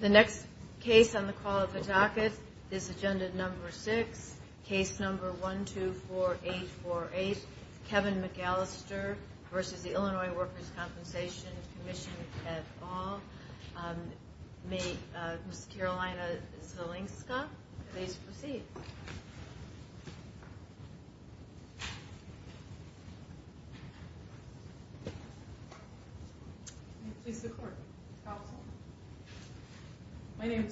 The next case on the call of the docket is Agenda No. 6, Case No. 124848, Kevin McAllister v. Illinois Workers' Compensation Comm'n My name is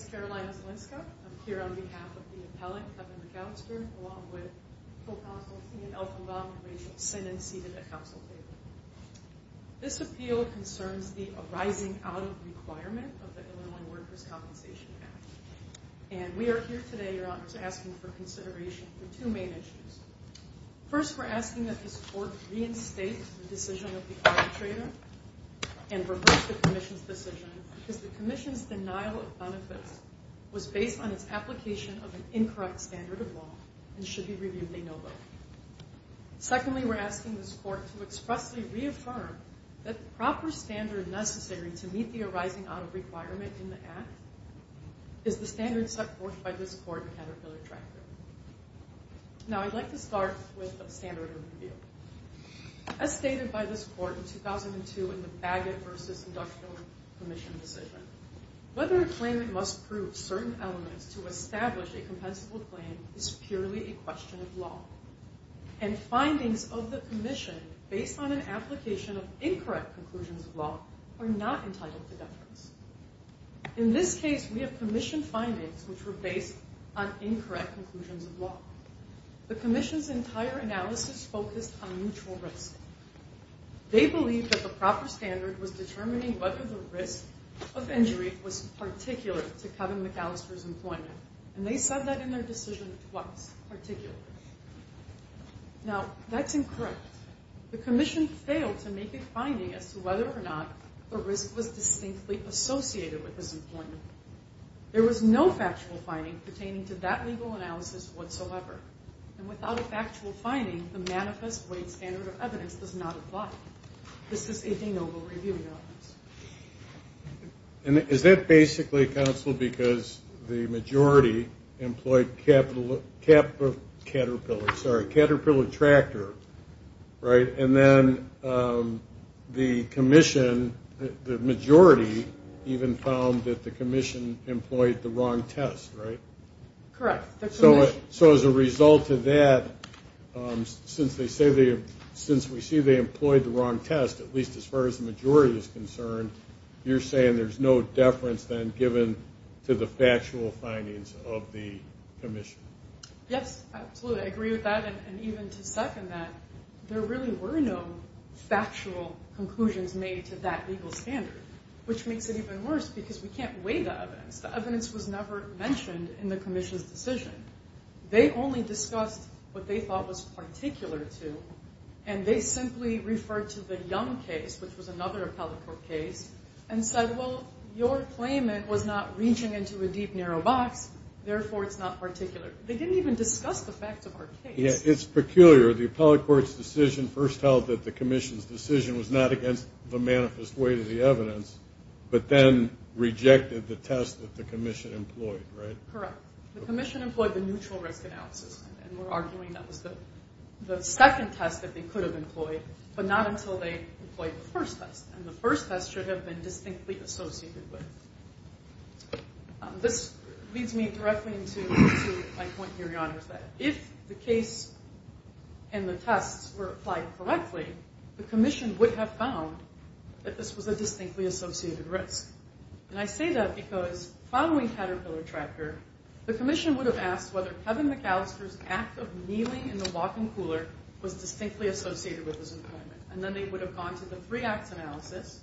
Carolina Zelinska. I'm here on behalf of the appellate, Kevin McAllister, along with Co-Counsel Ian Elkinbaum and Rachel Sinnon, seated at Council table. This appeal concerns the arising out of requirement of the Illinois Workers' Compensation Act. And we are here today, Your Honors, asking for consideration for two main issues. First, we're asking that the Court reinstate the decision of the arbitrator and reverse the Commission's decision because the Commission's denial of benefits was based on its application of an incorrect standard of law and should be reviewed a no vote. Secondly, we're asking this Court to expressly reaffirm that the proper standard necessary to meet the arising out of requirement in the Act is the standard set forth by this Court in Caterpillar Tractor. Now, I'd like to start with a standard of review. As stated by this Court in 2002 in the Bagot v. Inductional Commission decision, whether a claimant must prove certain elements to establish a compensable claim is purely a question of law. And findings of the Commission based on an application of incorrect conclusions of law are not entitled to deference. In this case, we have Commission findings which were based on incorrect conclusions of law. The Commission's entire analysis focused on mutual risk. They believed that the proper standard was determining whether the risk of injury was particular to Kevin McAllister's employment. And they said that in their decision twice, particularly. Now, that's incorrect. The Commission failed to make a finding as to whether or not the risk was distinctly associated with his employment. There was no factual finding pertaining to that legal analysis whatsoever. And without a factual finding, the manifest weight standard of evidence does not apply. This is a de novo review, Your Honors. And is that basically, Counsel, because the majority employed Caterpillar Tractor, right? And then the Commission, the majority even found that the Commission employed the wrong test, right? Correct. So as a result of that, since we see they employed the wrong test, at least as far as the majority is concerned, you're saying there's no deference then given to the factual findings of the Commission? Yes, absolutely. I agree with that. And even to second that, there really were no factual conclusions made to that legal standard, which makes it even worse because we can't weigh the evidence. The evidence was never mentioned in the Commission's decision. They only discussed what they thought was particular to. And they simply referred to the Young case, which was another appellate court case, and said, well, your claimant was not reaching into a deep, narrow box. Therefore, it's not particular. They didn't even discuss the fact of our case. It's peculiar. The appellate court's decision first held that the Commission's decision was not against the manifest weight of the evidence, but then rejected the test that the Commission employed, right? Correct. The Commission employed the neutral risk analysis, and we're arguing that was the second test that they could have employed, but not until they employed the first test. And the first test should have been distinctly associated with. This leads me directly to my point, Your Honor, that if the case and the tests were applied correctly, the Commission would have found that this was a distinctly associated risk. And I say that because following Caterpillar Tracker, the Commission would have asked whether Kevin McAllister's act of kneeling in the walk-in cooler was distinctly associated with his employment. And then they would have gone to the three-acts analysis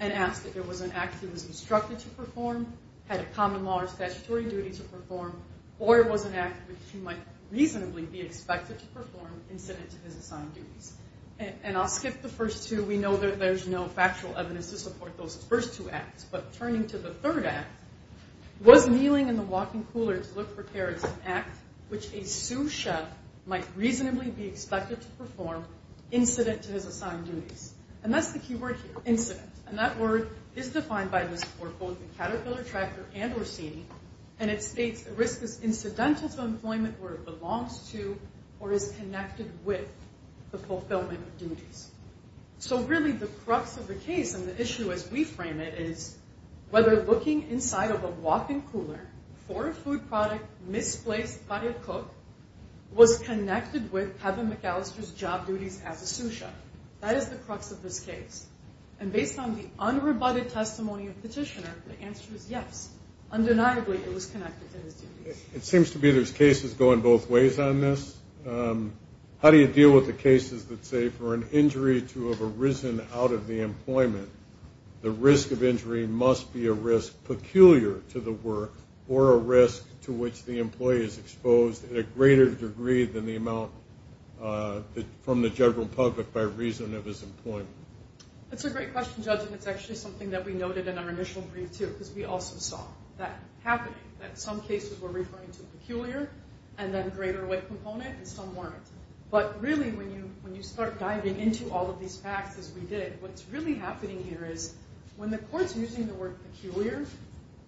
and asked if it was an act he was instructed to perform, had a common law or statutory duty to perform, or it was an act which he might reasonably be expected to perform incident to his assigned duties. And I'll skip the first two. We know that there's no factual evidence to support those first two acts. But turning to the third act, was kneeling in the walk-in cooler to look for care an act which a sous chef might reasonably be expected to perform incident to his assigned duties. And that's the key word here, incident. And that word is defined by this report, both in Caterpillar Tracker and Orsini, and it states the risk is incidental to employment where it belongs to or is connected with the fulfillment of duties. So really the crux of the case and the issue as we frame it is whether looking inside of a walk-in cooler for a food product misplaced by a cook was connected with Kevin McAllister's job duties as a sous chef. That is the crux of this case. And based on the unrebutted testimony of the petitioner, the answer is yes, undeniably it was connected to his duties. It seems to me there's cases going both ways on this. How do you deal with the cases that say for an injury to have arisen out of the employment, the risk of injury must be a risk peculiar to the work or a risk to which the employee is exposed in a greater degree than the amount from the general public by reason of his employment? That's a great question, Judge, and it's actually something that we noted in our initial brief too because we also saw that happening, that some cases were referring to peculiar and then a greater weight component and some weren't. But really when you start diving into all of these facts as we did, what's really happening here is when the court's using the word peculiar,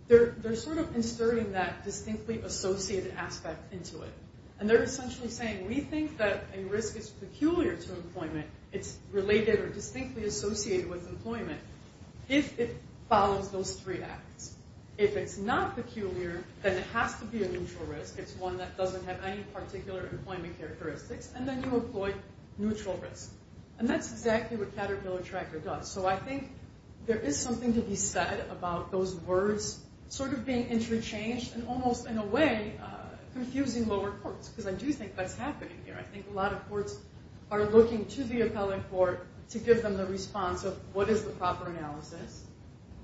they're sort of inserting that distinctly associated aspect into it. And they're essentially saying we think that a risk is peculiar to employment. It's related or distinctly associated with employment if it follows those three acts. If it's not peculiar, then it has to be a neutral risk. It's one that doesn't have any particular employment characteristics, and then you employ neutral risk. And that's exactly what Caterpillar Tracker does. So I think there is something to be said about those words sort of being interchanged and almost in a way confusing lower courts because I do think that's happening here. I think a lot of courts are looking to the appellate court to give them the response of what is the proper analysis?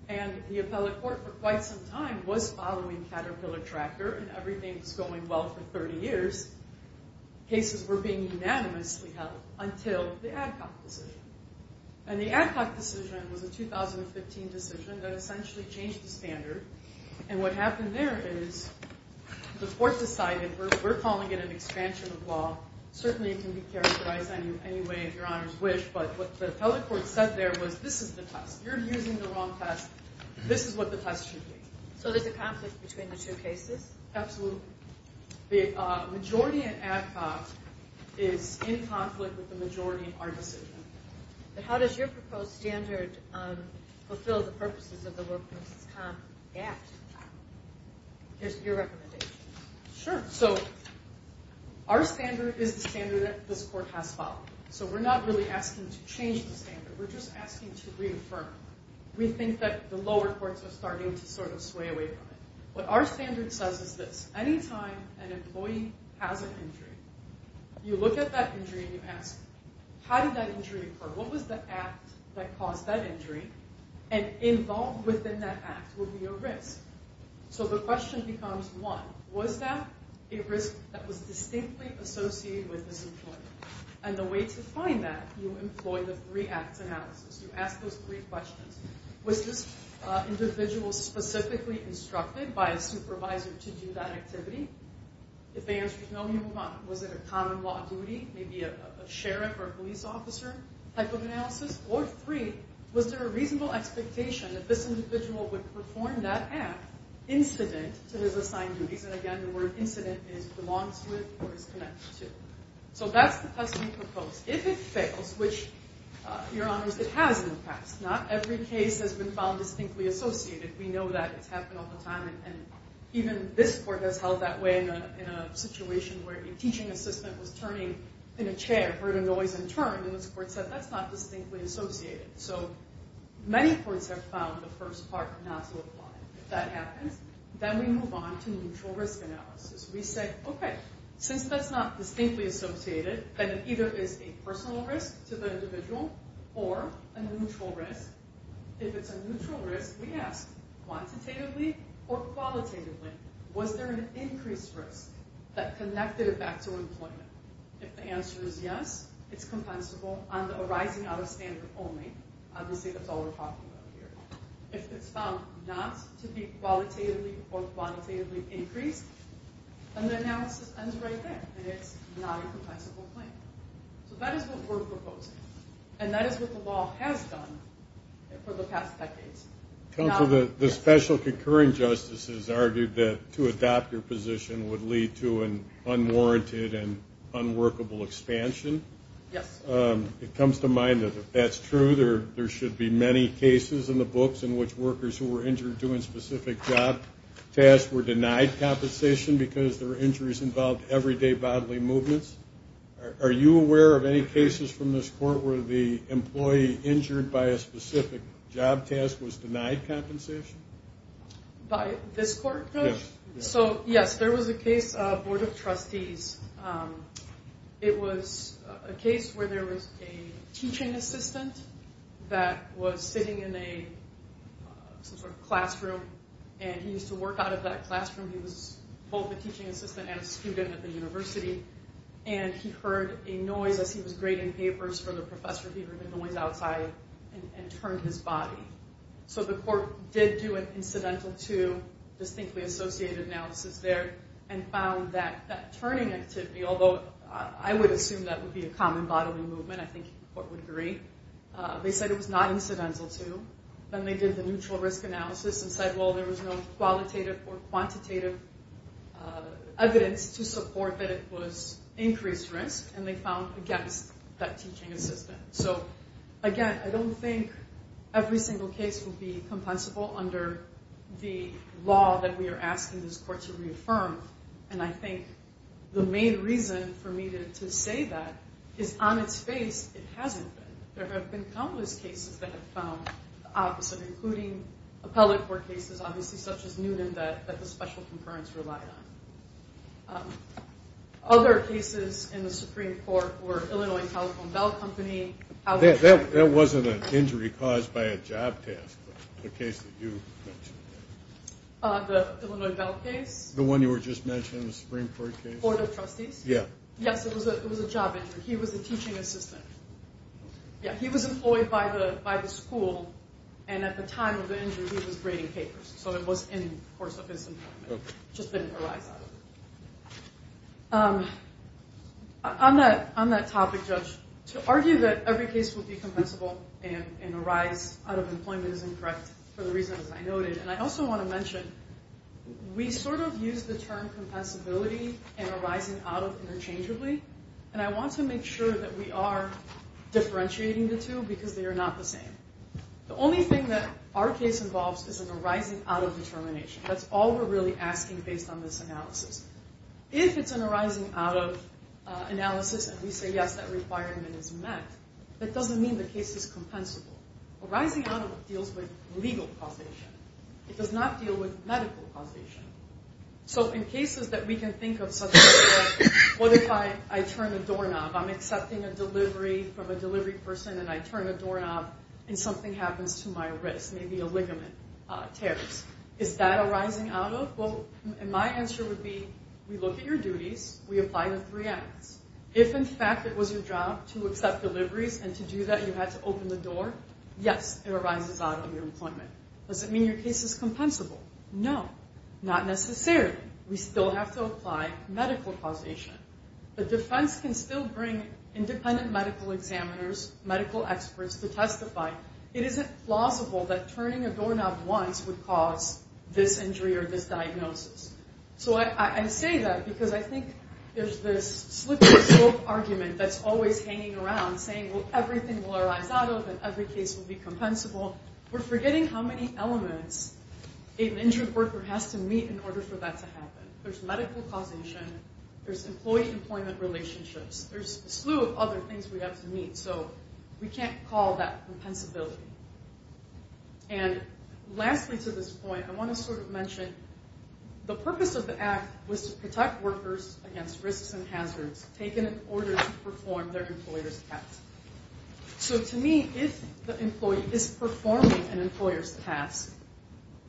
And the appellate court for quite some time was following Caterpillar Tracker and everything was going well for 30 years. Cases were being unanimously held until the ADCOC decision. And the ADCOC decision was a 2015 decision that essentially changed the standard. And what happened there is the court decided we're calling it an expansion of law. Certainly it can be characterized any way your honors wish, but what the appellate court said there was this is the test. You're using the wrong test. This is what the test should be. So there's a conflict between the two cases? Absolutely. The majority in ADCOC is in conflict with the majority in our decision. How does your proposed standard fulfill the purposes of the Workforce Com Act? Here's your recommendation. Sure. So our standard is the standard that this court has followed. So we're not really asking to change the standard. We're just asking to reaffirm. What our standard says is this. Anytime an employee has an injury, you look at that injury and you ask, how did that injury occur? What was the act that caused that injury? And involved within that act would be a risk. So the question becomes, one, was that a risk that was distinctly associated with this employee? And the way to find that, you employ the three-act analysis. You ask those three questions. Was this individual specifically instructed by a supervisor to do that activity? If the answer is no, you move on. Was it a common law duty, maybe a sheriff or a police officer type of analysis? Or, three, was there a reasonable expectation that this individual would perform that act incident to his assigned duties? And, again, the word incident is belongs to it or is connected to. So that's the test we propose. If it fails, which, Your Honors, it has in the past. Not every case has been found distinctly associated. We know that. It's happened all the time. And even this court has held that way in a situation where a teaching assistant was turning in a chair, heard a noise and turned, and this court said that's not distinctly associated. So many courts have found the first part not to apply. If that happens, then we move on to neutral risk analysis. We say, okay, since that's not distinctly associated, then it either is a personal risk to the individual or a neutral risk. If it's a neutral risk, we ask quantitatively or qualitatively, was there an increased risk that connected it back to employment? If the answer is yes, it's compensable on the arising out of standard only. Obviously, that's all we're talking about here. If it's found not to be qualitatively or quantitatively increased, then the analysis ends right there, that it's not a compensable claim. So that is what we're proposing, and that is what the law has done for the past decades. Counsel, the special concurring justices argued that to adopt your position would lead to an unwarranted and unworkable expansion. Yes. It comes to mind that if that's true, there should be many cases in the books in which workers who were injured doing specific job tasks were denied compensation because there were injuries involved in everyday bodily movements. Are you aware of any cases from this court where the employee injured by a specific job task was denied compensation? By this court? Yes. So, yes, there was a case, Board of Trustees. It was a case where there was a teaching assistant that was sitting in some sort of classroom, and he used to work out of that classroom. He was both a teaching assistant and a student at the university, and he heard a noise as he was grading papers for the professor. He heard the noise outside and turned his body. So the court did do an incidental to distinctly associated analysis there and found that turning activity, although I would assume that would be a common bodily movement. I think the court would agree. They said it was not incidental to. Then they did the neutral risk analysis and said, well, there was no qualitative or quantitative evidence to support that it was increased risk, and they found against that teaching assistant. So, again, I don't think every single case would be compensable under the law that we are asking this court to reaffirm, and I think the main reason for me to say that is on its face it hasn't been. There have been countless cases that have found the opposite, including appellate court cases, obviously, such as Newton that the special concurrence relied on. Other cases in the Supreme Court were Illinois Telephone Bell Company. That wasn't an injury caused by a job task, the case that you mentioned. The Illinois Bell case? The one you were just mentioning, the Supreme Court case. For the trustees? Yeah. Yes, it was a job injury. He was a teaching assistant. He was employed by the school, and at the time of the injury he was grading papers, so it was in the course of his employment. It just didn't arise out of it. On that topic, Judge, and arise out of employment is incorrect for the reasons I noted, and I also want to mention we sort of use the term compensability and arising out of interchangeably, and I want to make sure that we are differentiating the two because they are not the same. The only thing that our case involves is an arising out of determination. That's all we're really asking based on this analysis. If it's an arising out of analysis and we say, yes, that requirement is met, that doesn't mean the case is compensable. Arising out of it deals with legal causation. It does not deal with medical causation. So in cases that we can think of such as what if I turn the doorknob, I'm accepting a delivery from a delivery person and I turn the doorknob and something happens to my wrist, maybe a ligament tears. Is that arising out of? Well, my answer would be we look at your duties, we apply the three acts. If in fact it was your job to accept deliveries and to do that you had to open the door, yes, it arises out of your employment. Does it mean your case is compensable? No, not necessarily. We still have to apply medical causation. The defense can still bring independent medical examiners, medical experts to testify. It isn't plausible that turning a doorknob once would cause this injury or this diagnosis. So I say that because I think there's this slippery slope argument that's always hanging around saying everything will arise out of and every case will be compensable. We're forgetting how many elements an injured worker has to meet in order for that to happen. There's medical causation. There's employee-employment relationships. There's a slew of other things we have to meet, so we can't call that compensability. And lastly to this point, I want to sort of mention the purpose of the act was to protect workers against risks and hazards, taken in order to perform their employer's task. So to me, if the employee is performing an employer's task,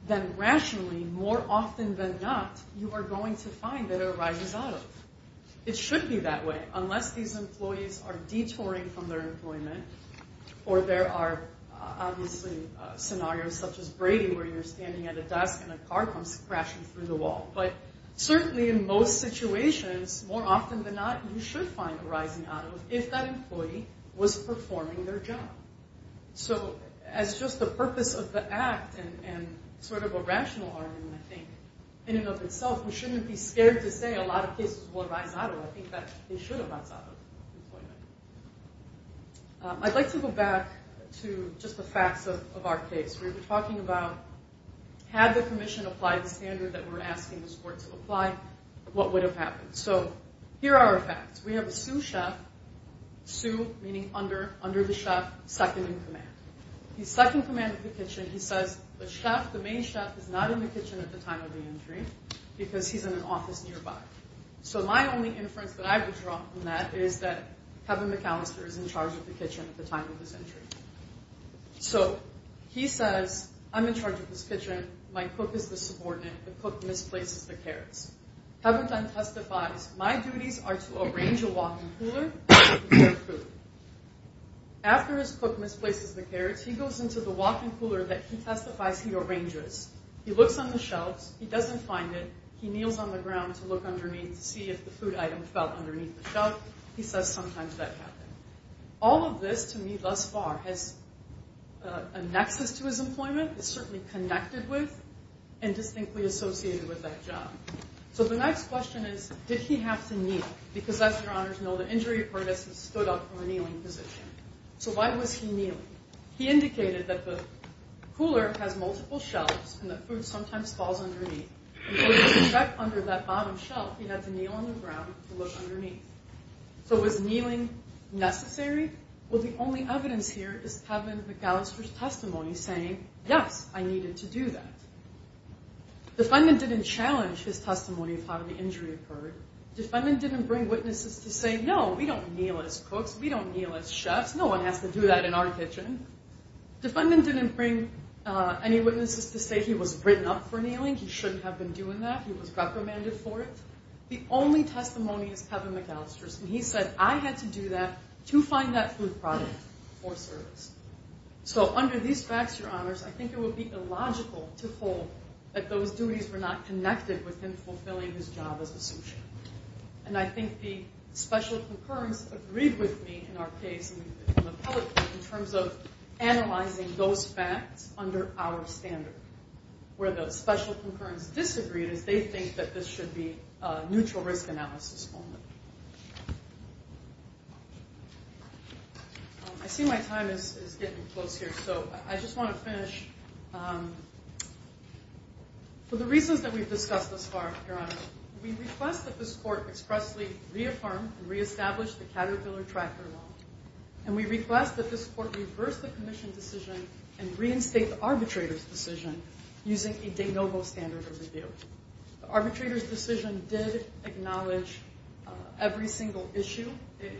then rationally, more often than not, you are going to find that it arises out of. It should be that way, unless these employees are detouring from their employment or there are obviously scenarios such as Brady where you're standing at a desk and a car comes crashing through the wall. But certainly in most situations, more often than not, you should find arising out of if that employee was performing their job. So as just the purpose of the act and sort of a rational argument, I think, in and of itself, we shouldn't be scared to say a lot of cases will arise out of. I think that they should arise out of employment. I'd like to go back to just the facts of our case. We were talking about had the Commission applied the standard that we're asking this Court to apply, what would have happened? So here are our facts. We have a sous chef, sous meaning under, under the chef, second in command. He's second in command of the kitchen. He says the chef, the main chef, is not in the kitchen at the time of the injury because he's in an office nearby. So my only inference that I would draw from that is that Kevin McAllister is in charge of the kitchen at the time of his injury. So he says, I'm in charge of this kitchen. My cook is the subordinate. The cook misplaces the carrots. Kevin then testifies, my duties are to arrange a walk-in cooler and prepare food. After his cook misplaces the carrots, he goes into the walk-in cooler that he testifies he arranges. He looks on the shelves. He doesn't find it. He kneels on the ground to look underneath to see if the food item fell underneath the shelf. He says sometimes that happened. All of this, to me thus far, has a nexus to his employment. It's certainly connected with and distinctly associated with that job. So the next question is, did he have to kneel? Because as your honors know, the injury report has stood up from a kneeling position. So why was he kneeling? He indicated that the cooler has multiple shelves and that food sometimes falls underneath. And so to protect under that bottom shelf, he had to kneel on the ground to look underneath. So was kneeling necessary? Well, the only evidence here is Kevin McAllister's testimony saying, yes, I needed to do that. Defendant didn't challenge his testimony of how the injury occurred. Defendant didn't bring witnesses to say, no, we don't kneel as cooks. We don't kneel as chefs. No one has to do that in our kitchen. Defendant didn't bring any witnesses to say he was written up for kneeling. He shouldn't have been doing that. He was recommended for it. The only testimony is Kevin McAllister's, and he said I had to do that to find that food product or service. So under these facts, Your Honors, I think it would be illogical to hold that those duties were not connected with him fulfilling his job as a sous chef. And I think the special concurrence agreed with me in our case in terms of analyzing those facts under our standard, where the special concurrence disagreed as they think that this should be a neutral risk analysis only. I see my time is getting close here, so I just want to finish. For the reasons that we've discussed thus far, Your Honor, we request that this court expressly reaffirm and reestablish the Caterpillar Tractor Law. And we request that this court reverse the commission decision and reinstate the arbitrator's decision using a de novo standard of review. The arbitrator's decision did acknowledge every single issue. It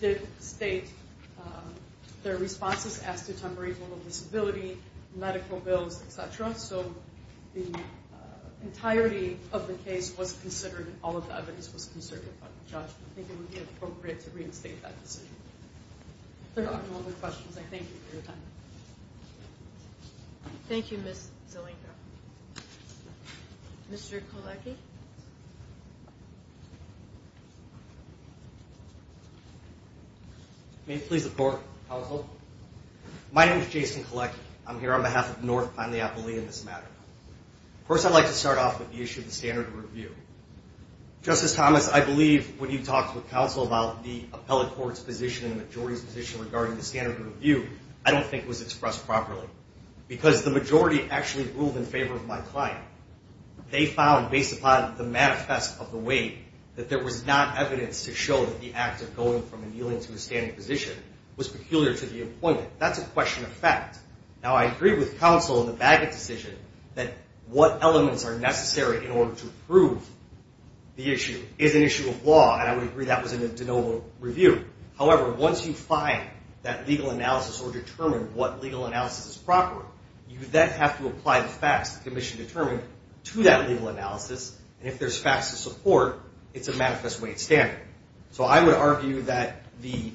did state their responses as to temporary level of disability, medical bills, et cetera. So the entirety of the case was considered and all of the evidence was considered by the judge. I think it would be appropriate to reinstate that decision. If there are no other questions, I thank you for your time. Thank you, Ms. Zelenka. Mr. Kolecki? May it please the court, counsel? My name is Jason Kolecki. I'm here on behalf of North Pine, the appellee in this matter. First, I'd like to start off with the issue of the standard of review. Justice Thomas, I believe when you talked with counsel about the appellate court's position and the majority's position regarding the standard of review, I don't think it was expressed properly because the majority actually ruled in favor of my client. They found, based upon the manifest of the weight, that there was not evidence to show that the act of going from a kneeling to a standing position was peculiar to the appointment. That's a question of fact. Now, I agree with counsel in the Bagot decision that what elements are necessary in order to prove the issue is an issue of law, and I would agree that was a de novo review. However, once you find that legal analysis or determine what legal analysis is proper, you then have to apply the facts the commission determined to that legal analysis, and if there's facts to support, it's a manifest weight standard. So I would argue that the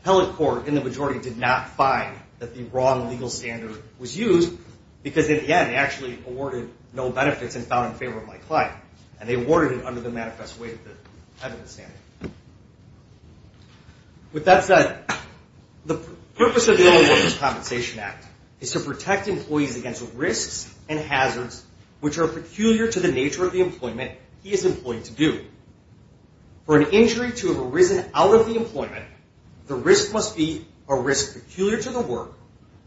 appellate court and the majority did not find that the wrong legal standard was used because, in the end, they actually awarded no benefits and found in favor of my client, and they awarded it under the manifest weight, the evidence standard. With that said, the purpose of the Illinois Workers' Compensation Act is to protect employees against risks and hazards which are peculiar to the nature of the employment he is employed to do. For an injury to have arisen out of the employment, the risk must be a risk peculiar to the work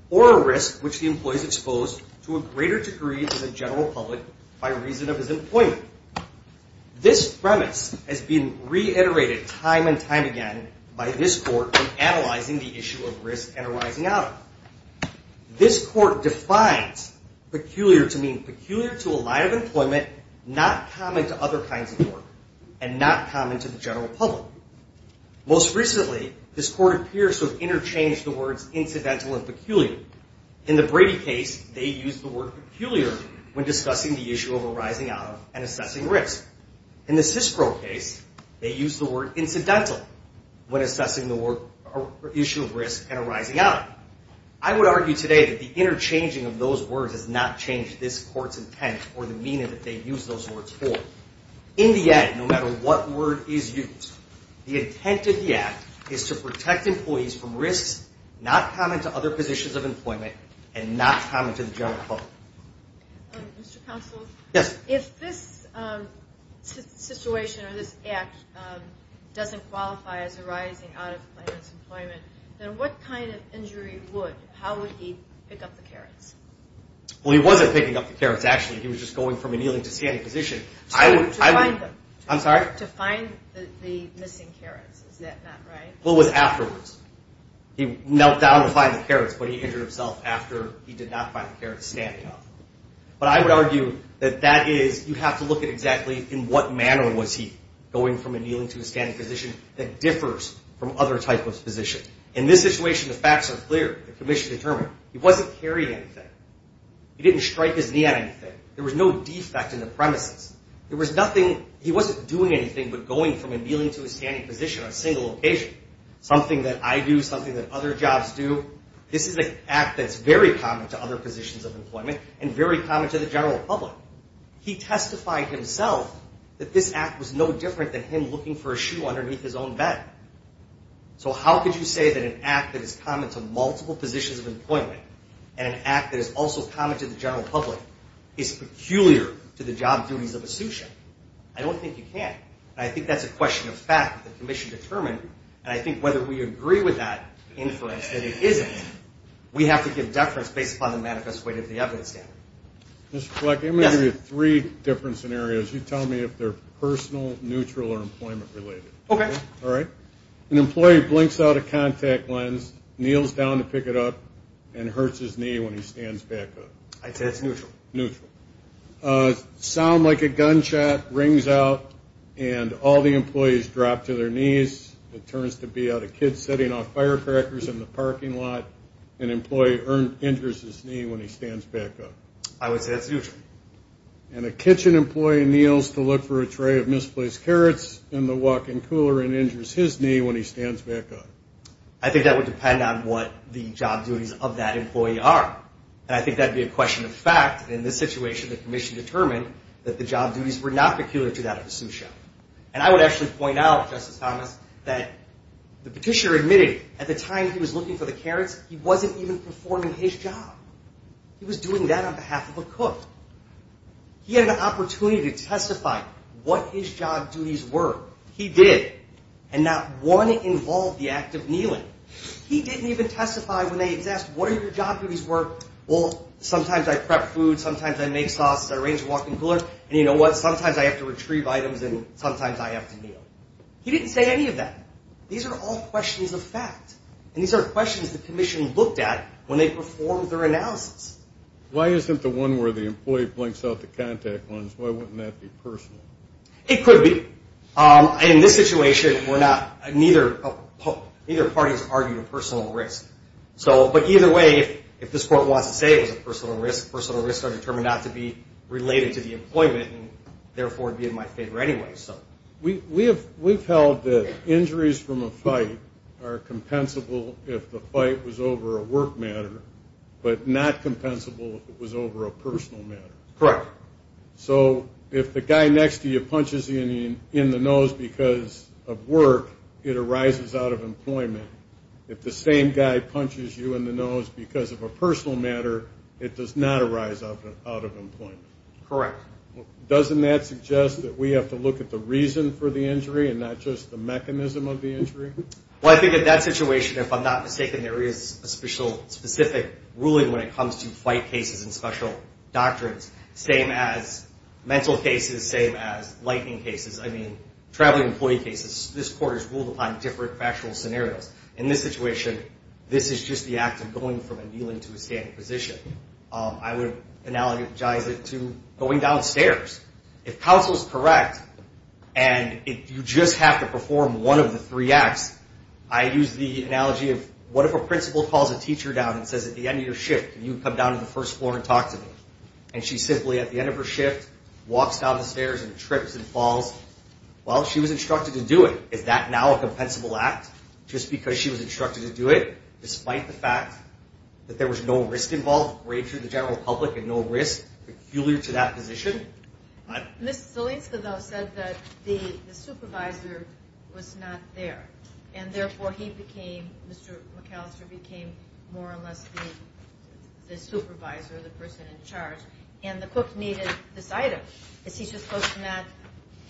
or a risk which the employee is exposed to a greater degree to the general public by reason of his employment. This premise has been reiterated time and time again by this court in analyzing the issue of risk and arising out of it. This court defines peculiar to mean peculiar to a line of employment, not common to other kinds of work, and not common to the general public. Most recently, this court appears to have interchanged the words incidental and peculiar. In the Brady case, they used the word peculiar when discussing the issue of arising out of and assessing risk. In the Cisco case, they used the word incidental when assessing the issue of risk and arising out of. I would argue today that the interchanging of those words does not change this court's intent or the meaning that they use those words for. In the end, no matter what word is used, the intent of the Act is to protect employees from risks not common to other positions of employment and not common to the general public. Mr. Counsel, if this situation or this Act doesn't qualify as arising out of claimant's employment, then what kind of injury would? How would he pick up the carrots? Well, he wasn't picking up the carrots, actually. He was just going from a kneeling to standing position. To find them. I'm sorry? To find the missing carrots. Is that not right? Well, it was afterwards. He knelt down to find the carrots, but he injured himself after he did not find the carrots standing up. But I would argue that that is, you have to look at exactly in what manner was he going from a kneeling to a standing position that differs from other type of position. In this situation, the facts are clear. The commission determined. He wasn't carrying anything. He didn't strike his knee at anything. There was no defect in the premises. There was nothing. He wasn't doing anything but going from a kneeling to a standing position on a single occasion. Something that I do, something that other jobs do. This is an Act that's very common to other positions of employment and very common to the general public. He testified himself that this Act was no different than him looking for a shoe underneath his own bed. So how could you say that an Act that is common to multiple positions of employment and an Act that is also common to the general public is peculiar to the job duties of a shoe shiner? I don't think you can. And I think that's a question of fact that the commission determined. And I think whether we agree with that inference that it isn't, we have to give deference based upon the manifest weight of the evidence. Mr. Fleck, I'm going to give you three different scenarios. You tell me if they're personal, neutral, or employment related. Okay. All right. An employee blinks out a contact lens, kneels down to pick it up, and hurts his knee when he stands back up. I'd say that's neutral. Neutral. Sound like a gunshot rings out and all the employees drop to their knees. It turns to be a kid sitting off firecrackers in the parking lot. An employee injures his knee when he stands back up. I would say that's neutral. And a kitchen employee kneels to look for a tray of misplaced carrots in the walk-in cooler and injures his knee when he stands back up. I think that would depend on what the job duties of that employee are. And I think that would be a question of fact. In this situation, the commission determined that the job duties were not peculiar to that of a sous chef. And I would actually point out, Justice Thomas, that the petitioner admitted at the time he was looking for the carrots, he wasn't even performing his job. He was doing that on behalf of a cook. He had an opportunity to testify what his job duties were. He did. And not one involved the act of kneeling. He didn't even testify when they asked what are your job duties were. Well, sometimes I prep food. Sometimes I make sauces. I arrange a walk-in cooler. And you know what? Sometimes I have to retrieve items and sometimes I have to kneel. He didn't say any of that. These are all questions of fact. And these are questions the commission looked at when they performed their analysis. Why isn't the one where the employee blinks out the contact lens, why wouldn't that be personal? It could be. In this situation, neither party has argued a personal risk. But either way, if this court wants to say it was a personal risk, personal risks are determined not to be related to the employment and therefore be in my favor anyway. We've held that injuries from a fight are compensable if the fight was over a personal matter. Correct. So if the guy next to you punches you in the nose because of work, it arises out of employment. If the same guy punches you in the nose because of a personal matter, it does not arise out of employment. Correct. Doesn't that suggest that we have to look at the reason for the injury and not just the mechanism of the injury? Well, I think in that situation, if I'm not mistaken, there is a specific ruling when it comes to fight cases and special doctrines. Same as mental cases, same as lightning cases. I mean, traveling employee cases. This court has ruled upon different factual scenarios. In this situation, this is just the act of going from a kneeling to a standing position. I would analogize it to going downstairs. If counsel is correct and you just have to perform one of the three acts, I use the analogy of what if a principal calls a teacher down and says, at the end of your shift, can you come down to the first floor and talk to me? And she simply, at the end of her shift, walks down the stairs and trips and falls. Well, she was instructed to do it. Is that now a compensable act? Just because she was instructed to do it despite the fact that there was no risk involved, great for the general public and no risk, peculiar to that position? Ms. Zielinska, though, said that the supervisor was not there, and therefore he became, Mr. McAllister became more or less the supervisor, the person in charge, and the cook needed this item. Is he supposed to not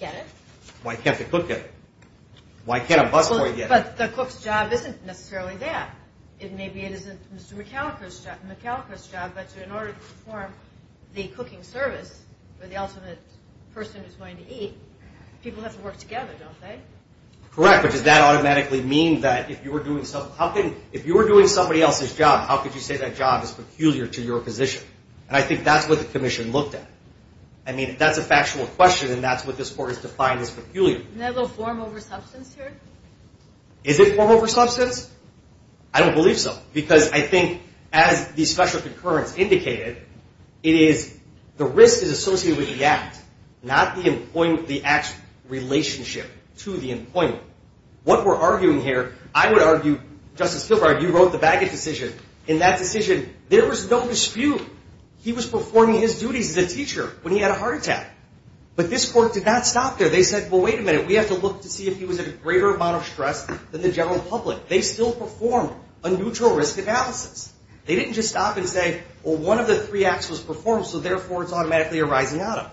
get it? Why can't the cook get it? Why can't a busboy get it? But the cook's job isn't necessarily that. It may be it isn't Mr. McAllister's job, but in order to perform the cooking service where the ultimate person is going to eat, people have to work together, don't they? Correct. But does that automatically mean that if you were doing somebody else's job, how could you say that job is peculiar to your position? And I think that's what the commission looked at. I mean, if that's a factual question, then that's what this Court has defined as peculiar. Isn't that a little form over substance here? Is it form over substance? I don't believe so. Because I think as the special concurrence indicated, it is the risk is associated with the act, not the act's relationship to the employment. What we're arguing here, I would argue, Justice Kilgore, you wrote the baggage decision. In that decision, there was no dispute. He was performing his duties as a teacher when he had a heart attack. But this Court did not stop there. They said, well, wait a minute. We have to look to see if he was in a greater amount of stress than the general public. They still performed a neutral risk analysis. They didn't just stop and say, well, one of the three acts was performed, so therefore it's automatically arising out of.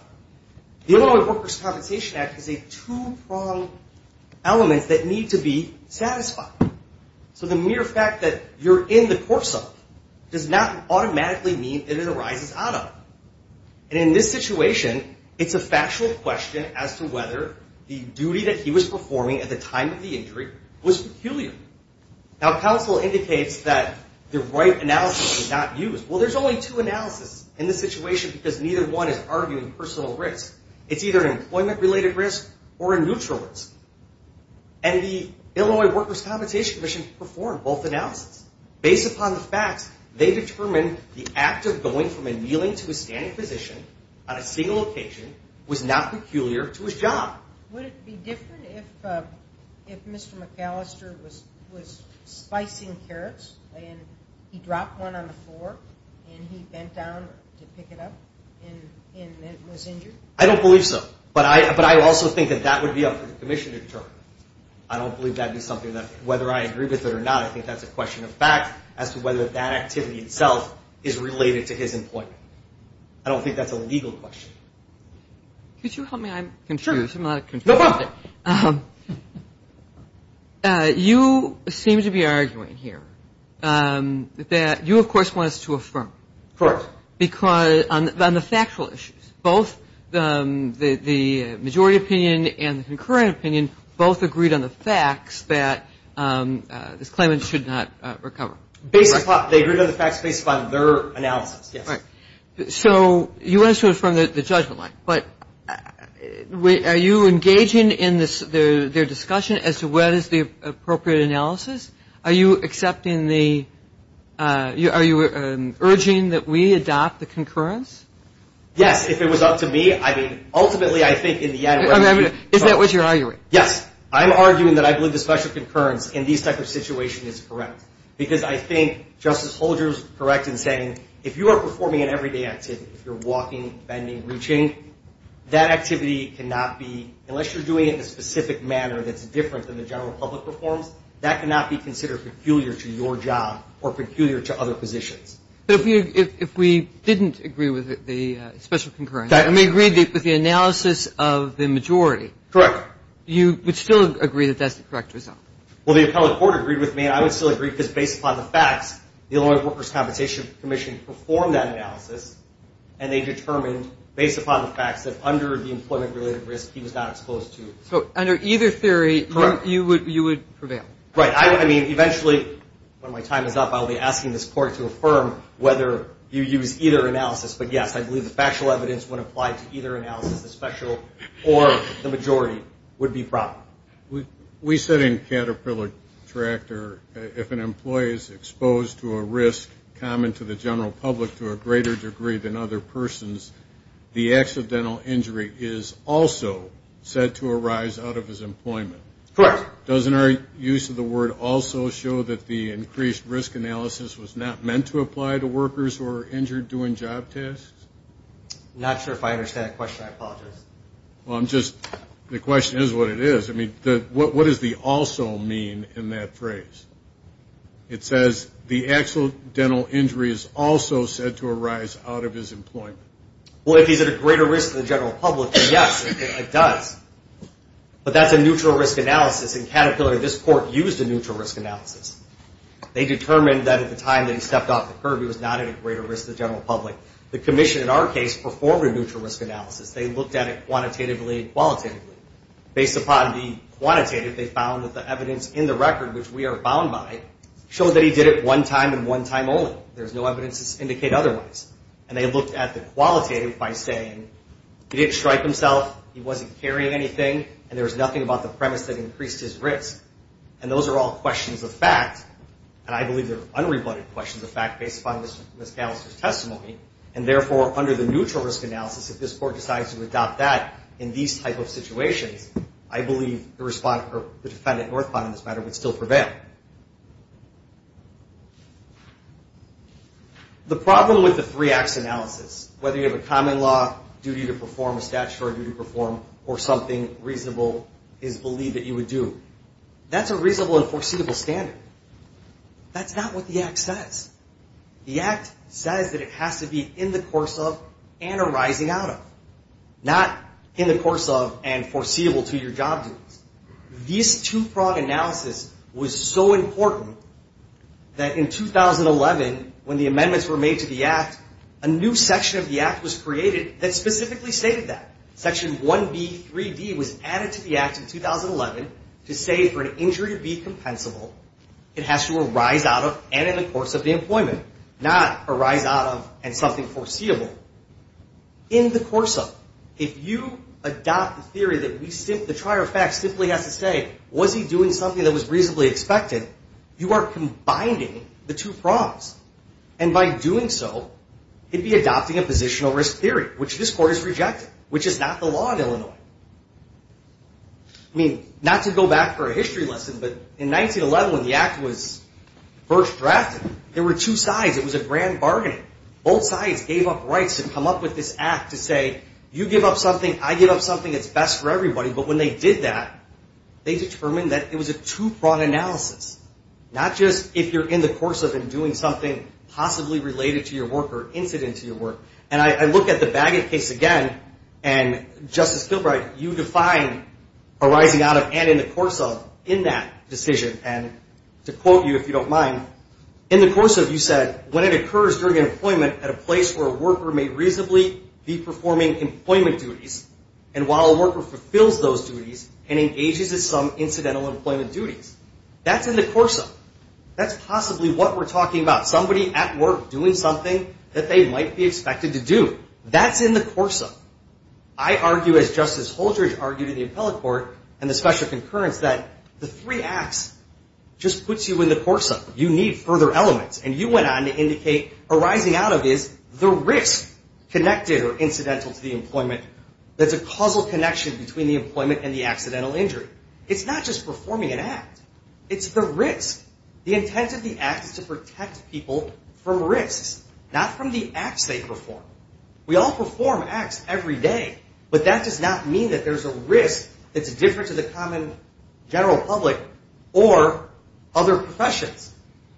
The Illinois Workers' Compensation Act is a two-pronged element that needs to be satisfied. So the mere fact that you're in the court cell does not automatically mean that it arises out of. And in this situation, it's a factual question as to whether the duty that counsel indicates that the right analysis is not used. Well, there's only two analyses in this situation because neither one is arguing personal risk. It's either an employment-related risk or a neutral risk. And the Illinois Workers' Compensation Commission performed both analyses. Based upon the facts, they determined the act of going from a kneeling to a standing position on a single occasion was not peculiar to his job. Would it be different if Mr. McAllister was slicing carrots and he dropped one on the floor and he bent down to pick it up and was injured? I don't believe so. But I also think that that would be up for the commission to determine. I don't believe that would be something that whether I agree with it or not, I think that's a question of fact as to whether that activity itself is related to his employment. I don't think that's a legal question. Could you help me? I'm confused. No problem. You seem to be arguing here that you, of course, want us to affirm. Correct. Because on the factual issues, both the majority opinion and the concurrent opinion both agreed on the facts that this claimant should not recover. They agreed on the facts based upon their analysis, yes. Correct. So you want us to affirm the judgment line, but are you engaging in their discussion as to whether it's the appropriate analysis? Are you accepting the ‑‑ are you urging that we adopt the concurrence? Yes, if it was up to me. I mean, ultimately, I think in the end ‑‑ Is that what you're arguing? Yes. I'm arguing that I believe the special concurrence in these type of situations is correct. Because I think Justice Holder is correct in saying, if you are performing an everyday activity, if you're walking, bending, reaching, that activity cannot be, unless you're doing it in a specific manner that's different than the general public performs, that cannot be considered peculiar to your job or peculiar to other positions. But if we didn't agree with the special concurrence, and we agreed with the analysis of the majority, you would still agree that that's the correct result? Well, the appellate court agreed with me, and I would still agree because based upon the facts, the Employment Workers' Compensation Commission performed that analysis, and they determined, based upon the facts, that under the employment‑related risk he was not exposed to. So under either theory, you would prevail? Right. I mean, eventually, when my time is up, I'll be asking this court to affirm whether you use either analysis. But, yes, I believe the factual evidence when applied to either analysis, the special or the majority, would be proper. We said in Caterpillar Tractor, if an employee is exposed to a risk common to the general public to a greater degree than other persons, the accidental injury is also said to arise out of his employment. Correct. Doesn't our use of the word also show that the increased risk analysis was not meant to apply to workers who are injured doing job tasks? I'm not sure if I understand that question. I apologize. Well, I'm just ‑‑ the question is what it is. I mean, what does the also mean in that phrase? It says the accidental injury is also said to arise out of his employment. Well, if he's at a greater risk to the general public, then, yes, it does. But that's a neutral risk analysis. In Caterpillar, this court used a neutral risk analysis. They determined that at the time that he stepped off the curb, he was not at a greater risk to the general public. The commission, in our case, performed a neutral risk analysis. They looked at it quantitatively and qualitatively. Based upon the quantitative, they found that the evidence in the record, which we are bound by, showed that he did it one time and one time only. There's no evidence to indicate otherwise. And they looked at the qualitative by saying he didn't strike himself, he wasn't carrying anything, and there was nothing about the premise that increased his risk. And those are all questions of fact. And I believe they're unrebutted questions of fact based upon Ms. Callister's testimony. And, therefore, under the neutral risk analysis, if this court decides to adopt that in these type of situations, I believe the defendant, Northpaw, in this matter, would still prevail. The problem with the three acts analysis, whether you have a common law duty to perform, a statutory duty to perform, or something reasonable is believed that you would do, that's a reasonable and foreseeable standard. That's not what the act says. The act says that it has to be in the course of and arising out of, not in the course of and foreseeable to your job duties. This two-frog analysis was so important that in 2011, when the amendments were made to the act, a new section of the act was created that specifically stated that. Section 1B.3.D. was added to the act in 2011 to say for an injury to be compensable, it has to arise out of and in the course of the employment, not arise out of and something foreseeable. In the course of, if you adopt the theory that the trier of facts simply has to say, was he doing something that was reasonably expected, you are combining the two frogs. And by doing so, you'd be adopting a positional risk theory, which this court has rejected, which is not the law in Illinois. I mean, not to go back for a history lesson, but in 1911, when the act was first drafted, there were two sides. It was a grand bargaining. Both sides gave up rights to come up with this act to say, you give up something, I give up something that's best for everybody. But when they did that, they determined that it was a two-frog analysis, not just if you're in the course of and doing something possibly related to your work or incident to your work. And I look at the Bagot case again, and Justice Kilbride, you define arising out of and in the course of in that decision. And to quote you, if you don't mind, in the course of, you said, when it occurs during employment at a place where a worker may reasonably be performing employment duties, and while a worker fulfills those duties and engages in some incidental employment duties. That's in the course of. That's possibly what we're talking about. Somebody at work doing something that they might be expected to do. That's in the course of. I argue, as Justice Holdridge argued in the appellate court, and the special concurrence, that the three acts just puts you in the course of. You need further elements. And you went on to indicate arising out of is the risk connected or incidental to the employment that's a causal connection between the employment and the accidental injury. It's not just performing an act. It's the risk. The intent of the act is to protect people from risks, not from the acts they perform. We all perform acts every day. But that does not mean that there's a risk that's different to the common general public or other professions.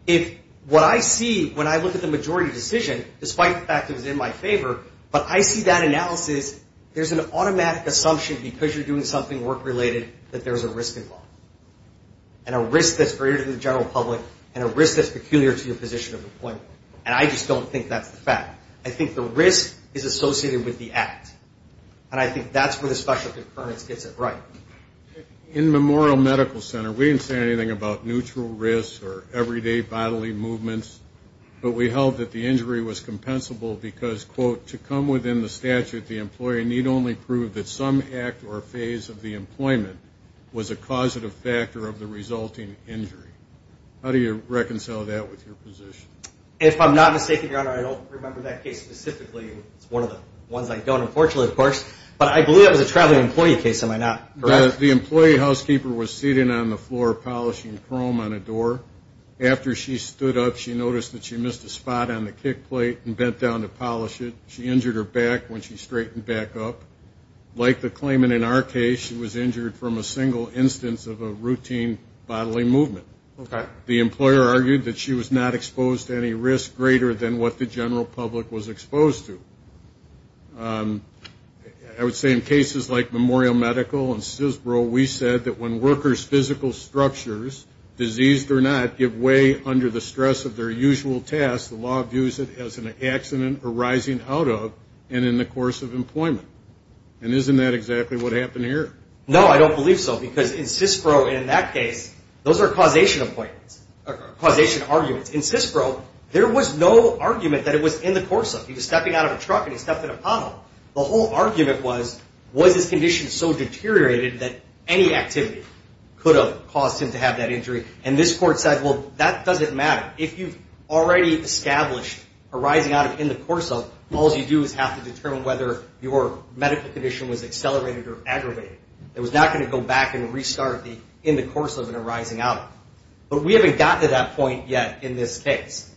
If what I see when I look at the majority decision, despite the fact it was in my favor, but I see that analysis, there's an automatic assumption because you're doing something work-related that there's a risk involved, and a risk that's greater than the general public and a risk that's peculiar to your position of employment. And I just don't think that's the fact. I think the risk is associated with the act. And I think that's where the special concurrence gets it right. In Memorial Medical Center, we didn't say anything about neutral risks or everyday bodily movements. But we held that the injury was compensable because, quote, to come within the statute, the employee need only prove that some act or phase of the employment was a causative factor of the resulting injury. How do you reconcile that with your position? If I'm not mistaken, Your Honor, I don't remember that case specifically. It's one of the ones I don't, unfortunately, of course. But I believe that was a traveling employee case, am I not correct? The employee housekeeper was sitting on the floor polishing chrome on a door. After she stood up, she noticed that she missed a spot on the kick plate and bent down to polish it. She injured her back when she straightened back up. Like the claimant in our case, she was injured from a single instance of a routine bodily movement. The employer argued that she was not exposed to any risk greater than what the general public was exposed to. I would say in cases like Memorial Medical and CISPRO, we said that when workers' physical structures, diseased or not, give way under the stress of their usual tasks, the law views it as an accident arising out of and in the course of employment. And isn't that exactly what happened here? No, I don't believe so. Because in CISPRO, in that case, those are causation arguments. In CISPRO, there was no argument that it was in the course of. He was stepping out of a truck and he stepped in a puddle. The whole argument was, was his condition so deteriorated that any activity could have caused him to have that injury? And this court said, well, that doesn't matter. If you've already established arising out of in the course of, was accelerated or aggravated. It was not going to go back and restart in the course of an arising out of. But we haven't gotten to that point yet in this case.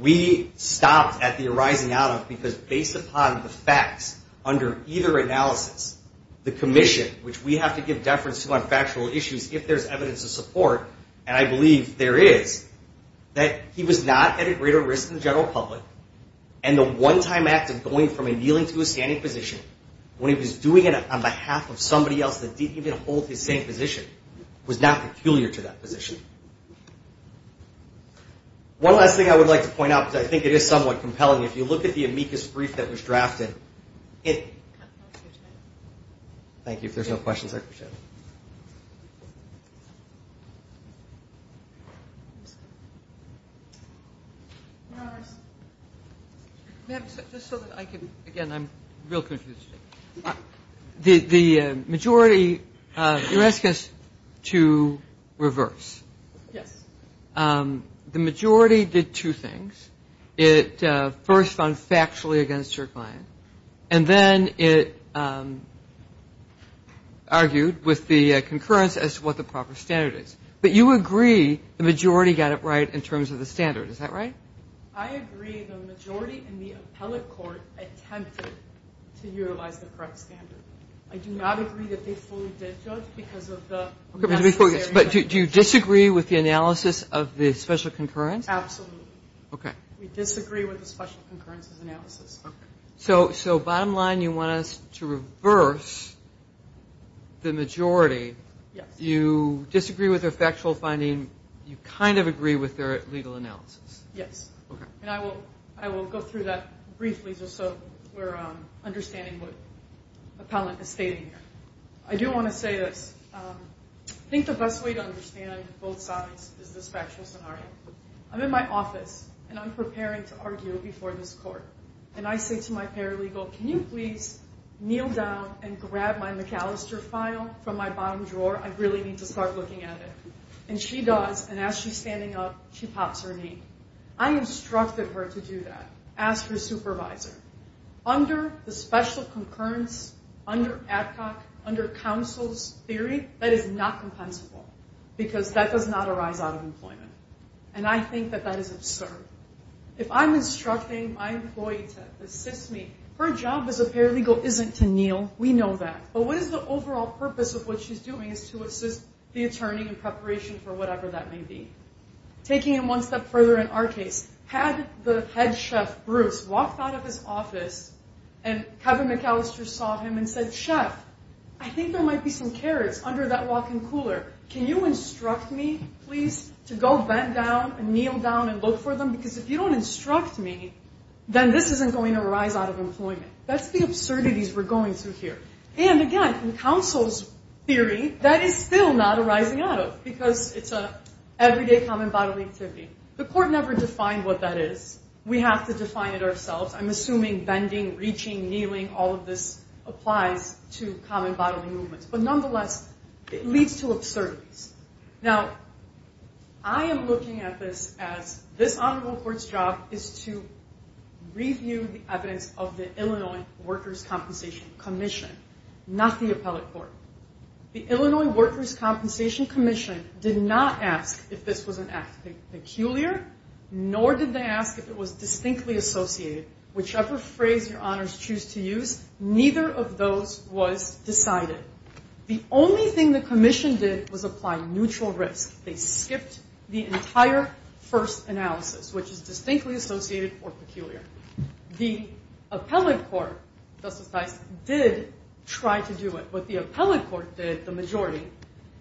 We stopped at the arising out of because based upon the facts, under either analysis, the commission, which we have to give deference to on factual issues if there's evidence of support, and I believe there is, that he was not at a greater risk than the general public. And the one-time act of going from a kneeling to a standing position, when he was doing it on behalf of somebody else that didn't even hold his same position, was not peculiar to that position. One last thing I would like to point out, because I think it is somewhat compelling. If you look at the amicus brief that was drafted, it... Thank you. If there's no questions, I appreciate it. Ma'am, just so that I can... Again, I'm real confused. The majority... You're asking us to reverse. Yes. The majority did two things. It first, on factually against your client, and then it argued with the conclusion that the majority, the concurrence as to what the proper standard is. But you agree the majority got it right in terms of the standard. Is that right? I agree the majority in the appellate court attempted to utilize the correct standard. I do not agree that they fully did judge because of the... But do you disagree with the analysis of the special concurrence? Okay. We disagree with the special concurrence's analysis. Okay. So, bottom line, you want us to reverse the majority. You disagree with their factual finding. You kind of agree with their legal analysis. Yes. And I will go through that briefly, just so we're understanding what the appellant is stating here. I do want to say this. I think the best way to understand both sides is this factual scenario. I'm in my office, and I'm preparing to argue before this court. And I say to my paralegal, can you please kneel down and grab my McAllister file from my bottom drawer? I really need to start looking at it. And she does, and as she's standing up, she pops her knee. I instructed her to do that. Ask her supervisor. Under the special concurrence, under Adcock, under counsel's theory, that is not compensable because that does not arise out of employment. And I think that that is absurd. If I'm instructing my employee to assist me, her job as a paralegal isn't to kneel. We know that. But what is the overall purpose of what she's doing is to assist the attorney in preparation for whatever that may be. Taking it one step further in our case, had the head chef, Bruce, walked out of his office, and Kevin McAllister saw him and said, Chef, I think there might be some carrots under that walk-in cooler. Can you instruct me, please, to go bend down and kneel down and look for them? Because if you don't instruct me, then this isn't going to arise out of employment. That's the absurdities we're going through here. And again, in counsel's theory, that is still not arising out of because it's an everyday common bodily activity. The court never defined what that is. We have to define it ourselves. I'm assuming bending, reaching, kneeling, all of this applies to common bodily movements. But nonetheless, it leads to absurdities. Now, I am looking at this as this honorable court's job is to review the evidence of the Illinois Workers' Compensation Commission, not the appellate court. The Illinois Workers' Compensation Commission did not ask if this was an act peculiar, nor did they ask if it was distinctly associated. Whichever phrase your honors choose to use, neither of those was decided. The only thing the commission did was apply neutral risk. They skipped the entire first analysis, which is distinctly associated or peculiar. The appellate court, Justice Tice, did try to do it. What the appellate court did, the majority,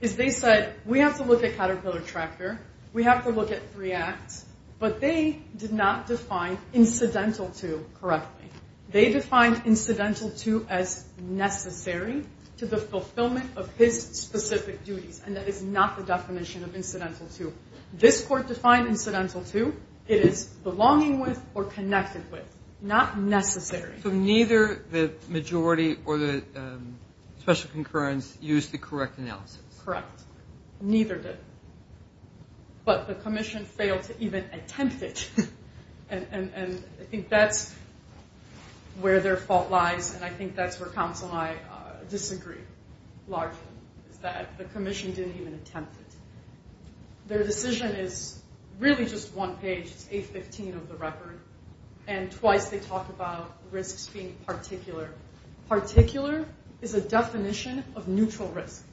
is they said, we have to look at Caterpillar Tractor. We have to look at three acts. But they did not define incidental to correctly. They defined incidental to as necessary to the fulfillment of his specific duties. And that is not the definition of incidental to. This court defined incidental to, it is belonging with or connected with. Not necessary. So neither the majority or the special concurrence used the correct analysis. Correct. Neither did. But the commission failed to even attempt it. And I think that's where their fault lies. And I think that's where counsel and I disagree largely. Is that the commission didn't even attempt it. It's 815 of the record. And twice they talk about risks being particular. Particular is a definition of neutral risk.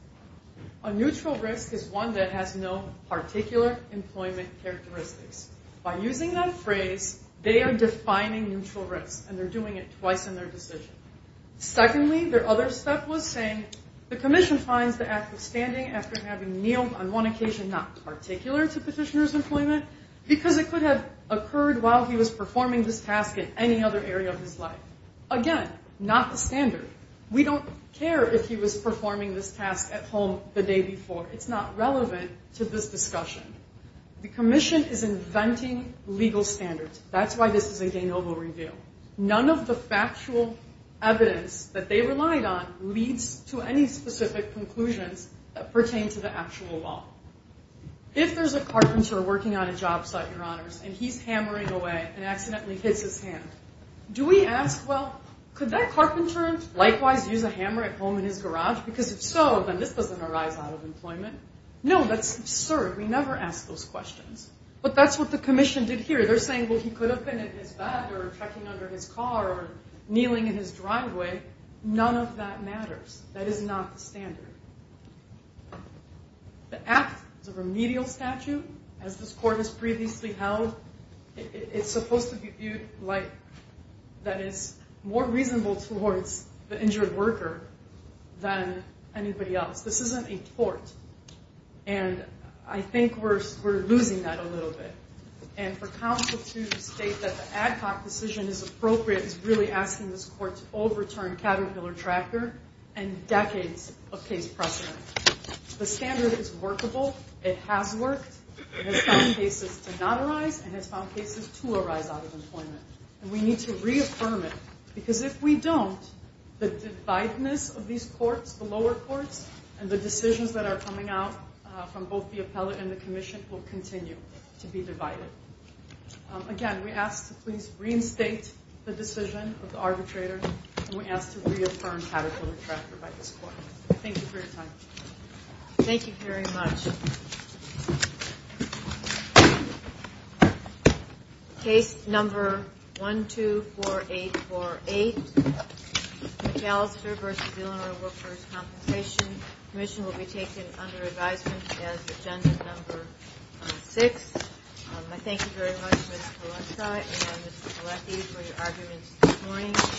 A neutral risk is one that has no particular employment characteristics. By using that phrase, they are defining neutral risk. And they're doing it twice in their decision. Secondly, their other step was saying, the commission finds the act of standing after having kneeled on one occasion not particular to petitioner's employment because it could have occurred while he was performing this task in any other area of his life. Again, not the standard. We don't care if he was performing this task at home the day before. It's not relevant to this discussion. The commission is inventing legal standards. That's why this is a de novo review. None of the factual evidence that they relied on leads to any specific conclusions that pertain to the actual law. If there's a carpenter working on a job site, your honors, and he's hammering away and accidentally hits his hand, do we ask, well, could that carpenter likewise use a hammer at home in his garage? Because if so, then this doesn't arise out of employment. No, that's absurd. We never ask those questions. But that's what the commission did here. They're saying, well, he could have been in his bed or checking under his car or kneeling in his driveway. None of that matters. That is not the standard. The act is a remedial statute. As this court has previously held, it's supposed to be viewed like that is more reasonable towards the injured worker than anybody else. This isn't a tort. And I think we're losing that a little bit. And for counsel to state that the ad hoc decision is appropriate is really asking this court to overturn Caterpillar Tracker and decades of case precedent. The standard is workable. It has worked. It has found cases to not arise and it has found cases to arise out of employment. And we need to reaffirm it. Because if we don't, the divideness of these courts, the lower courts, and the decisions that are coming out from both the appellate and the commission will continue to be divided. Again, we ask to please reinstate the decision of the arbitrator and we ask to reaffirm Caterpillar Tracker by this court. Thank you for your time. Thank you very much. Case number 124848. McAllister v. Illinois Workers Compensation. The commission will be taken under advisement as agenda number 6. I thank you very much, Ms. Palencia and Ms. Palencia for your arguments this morning.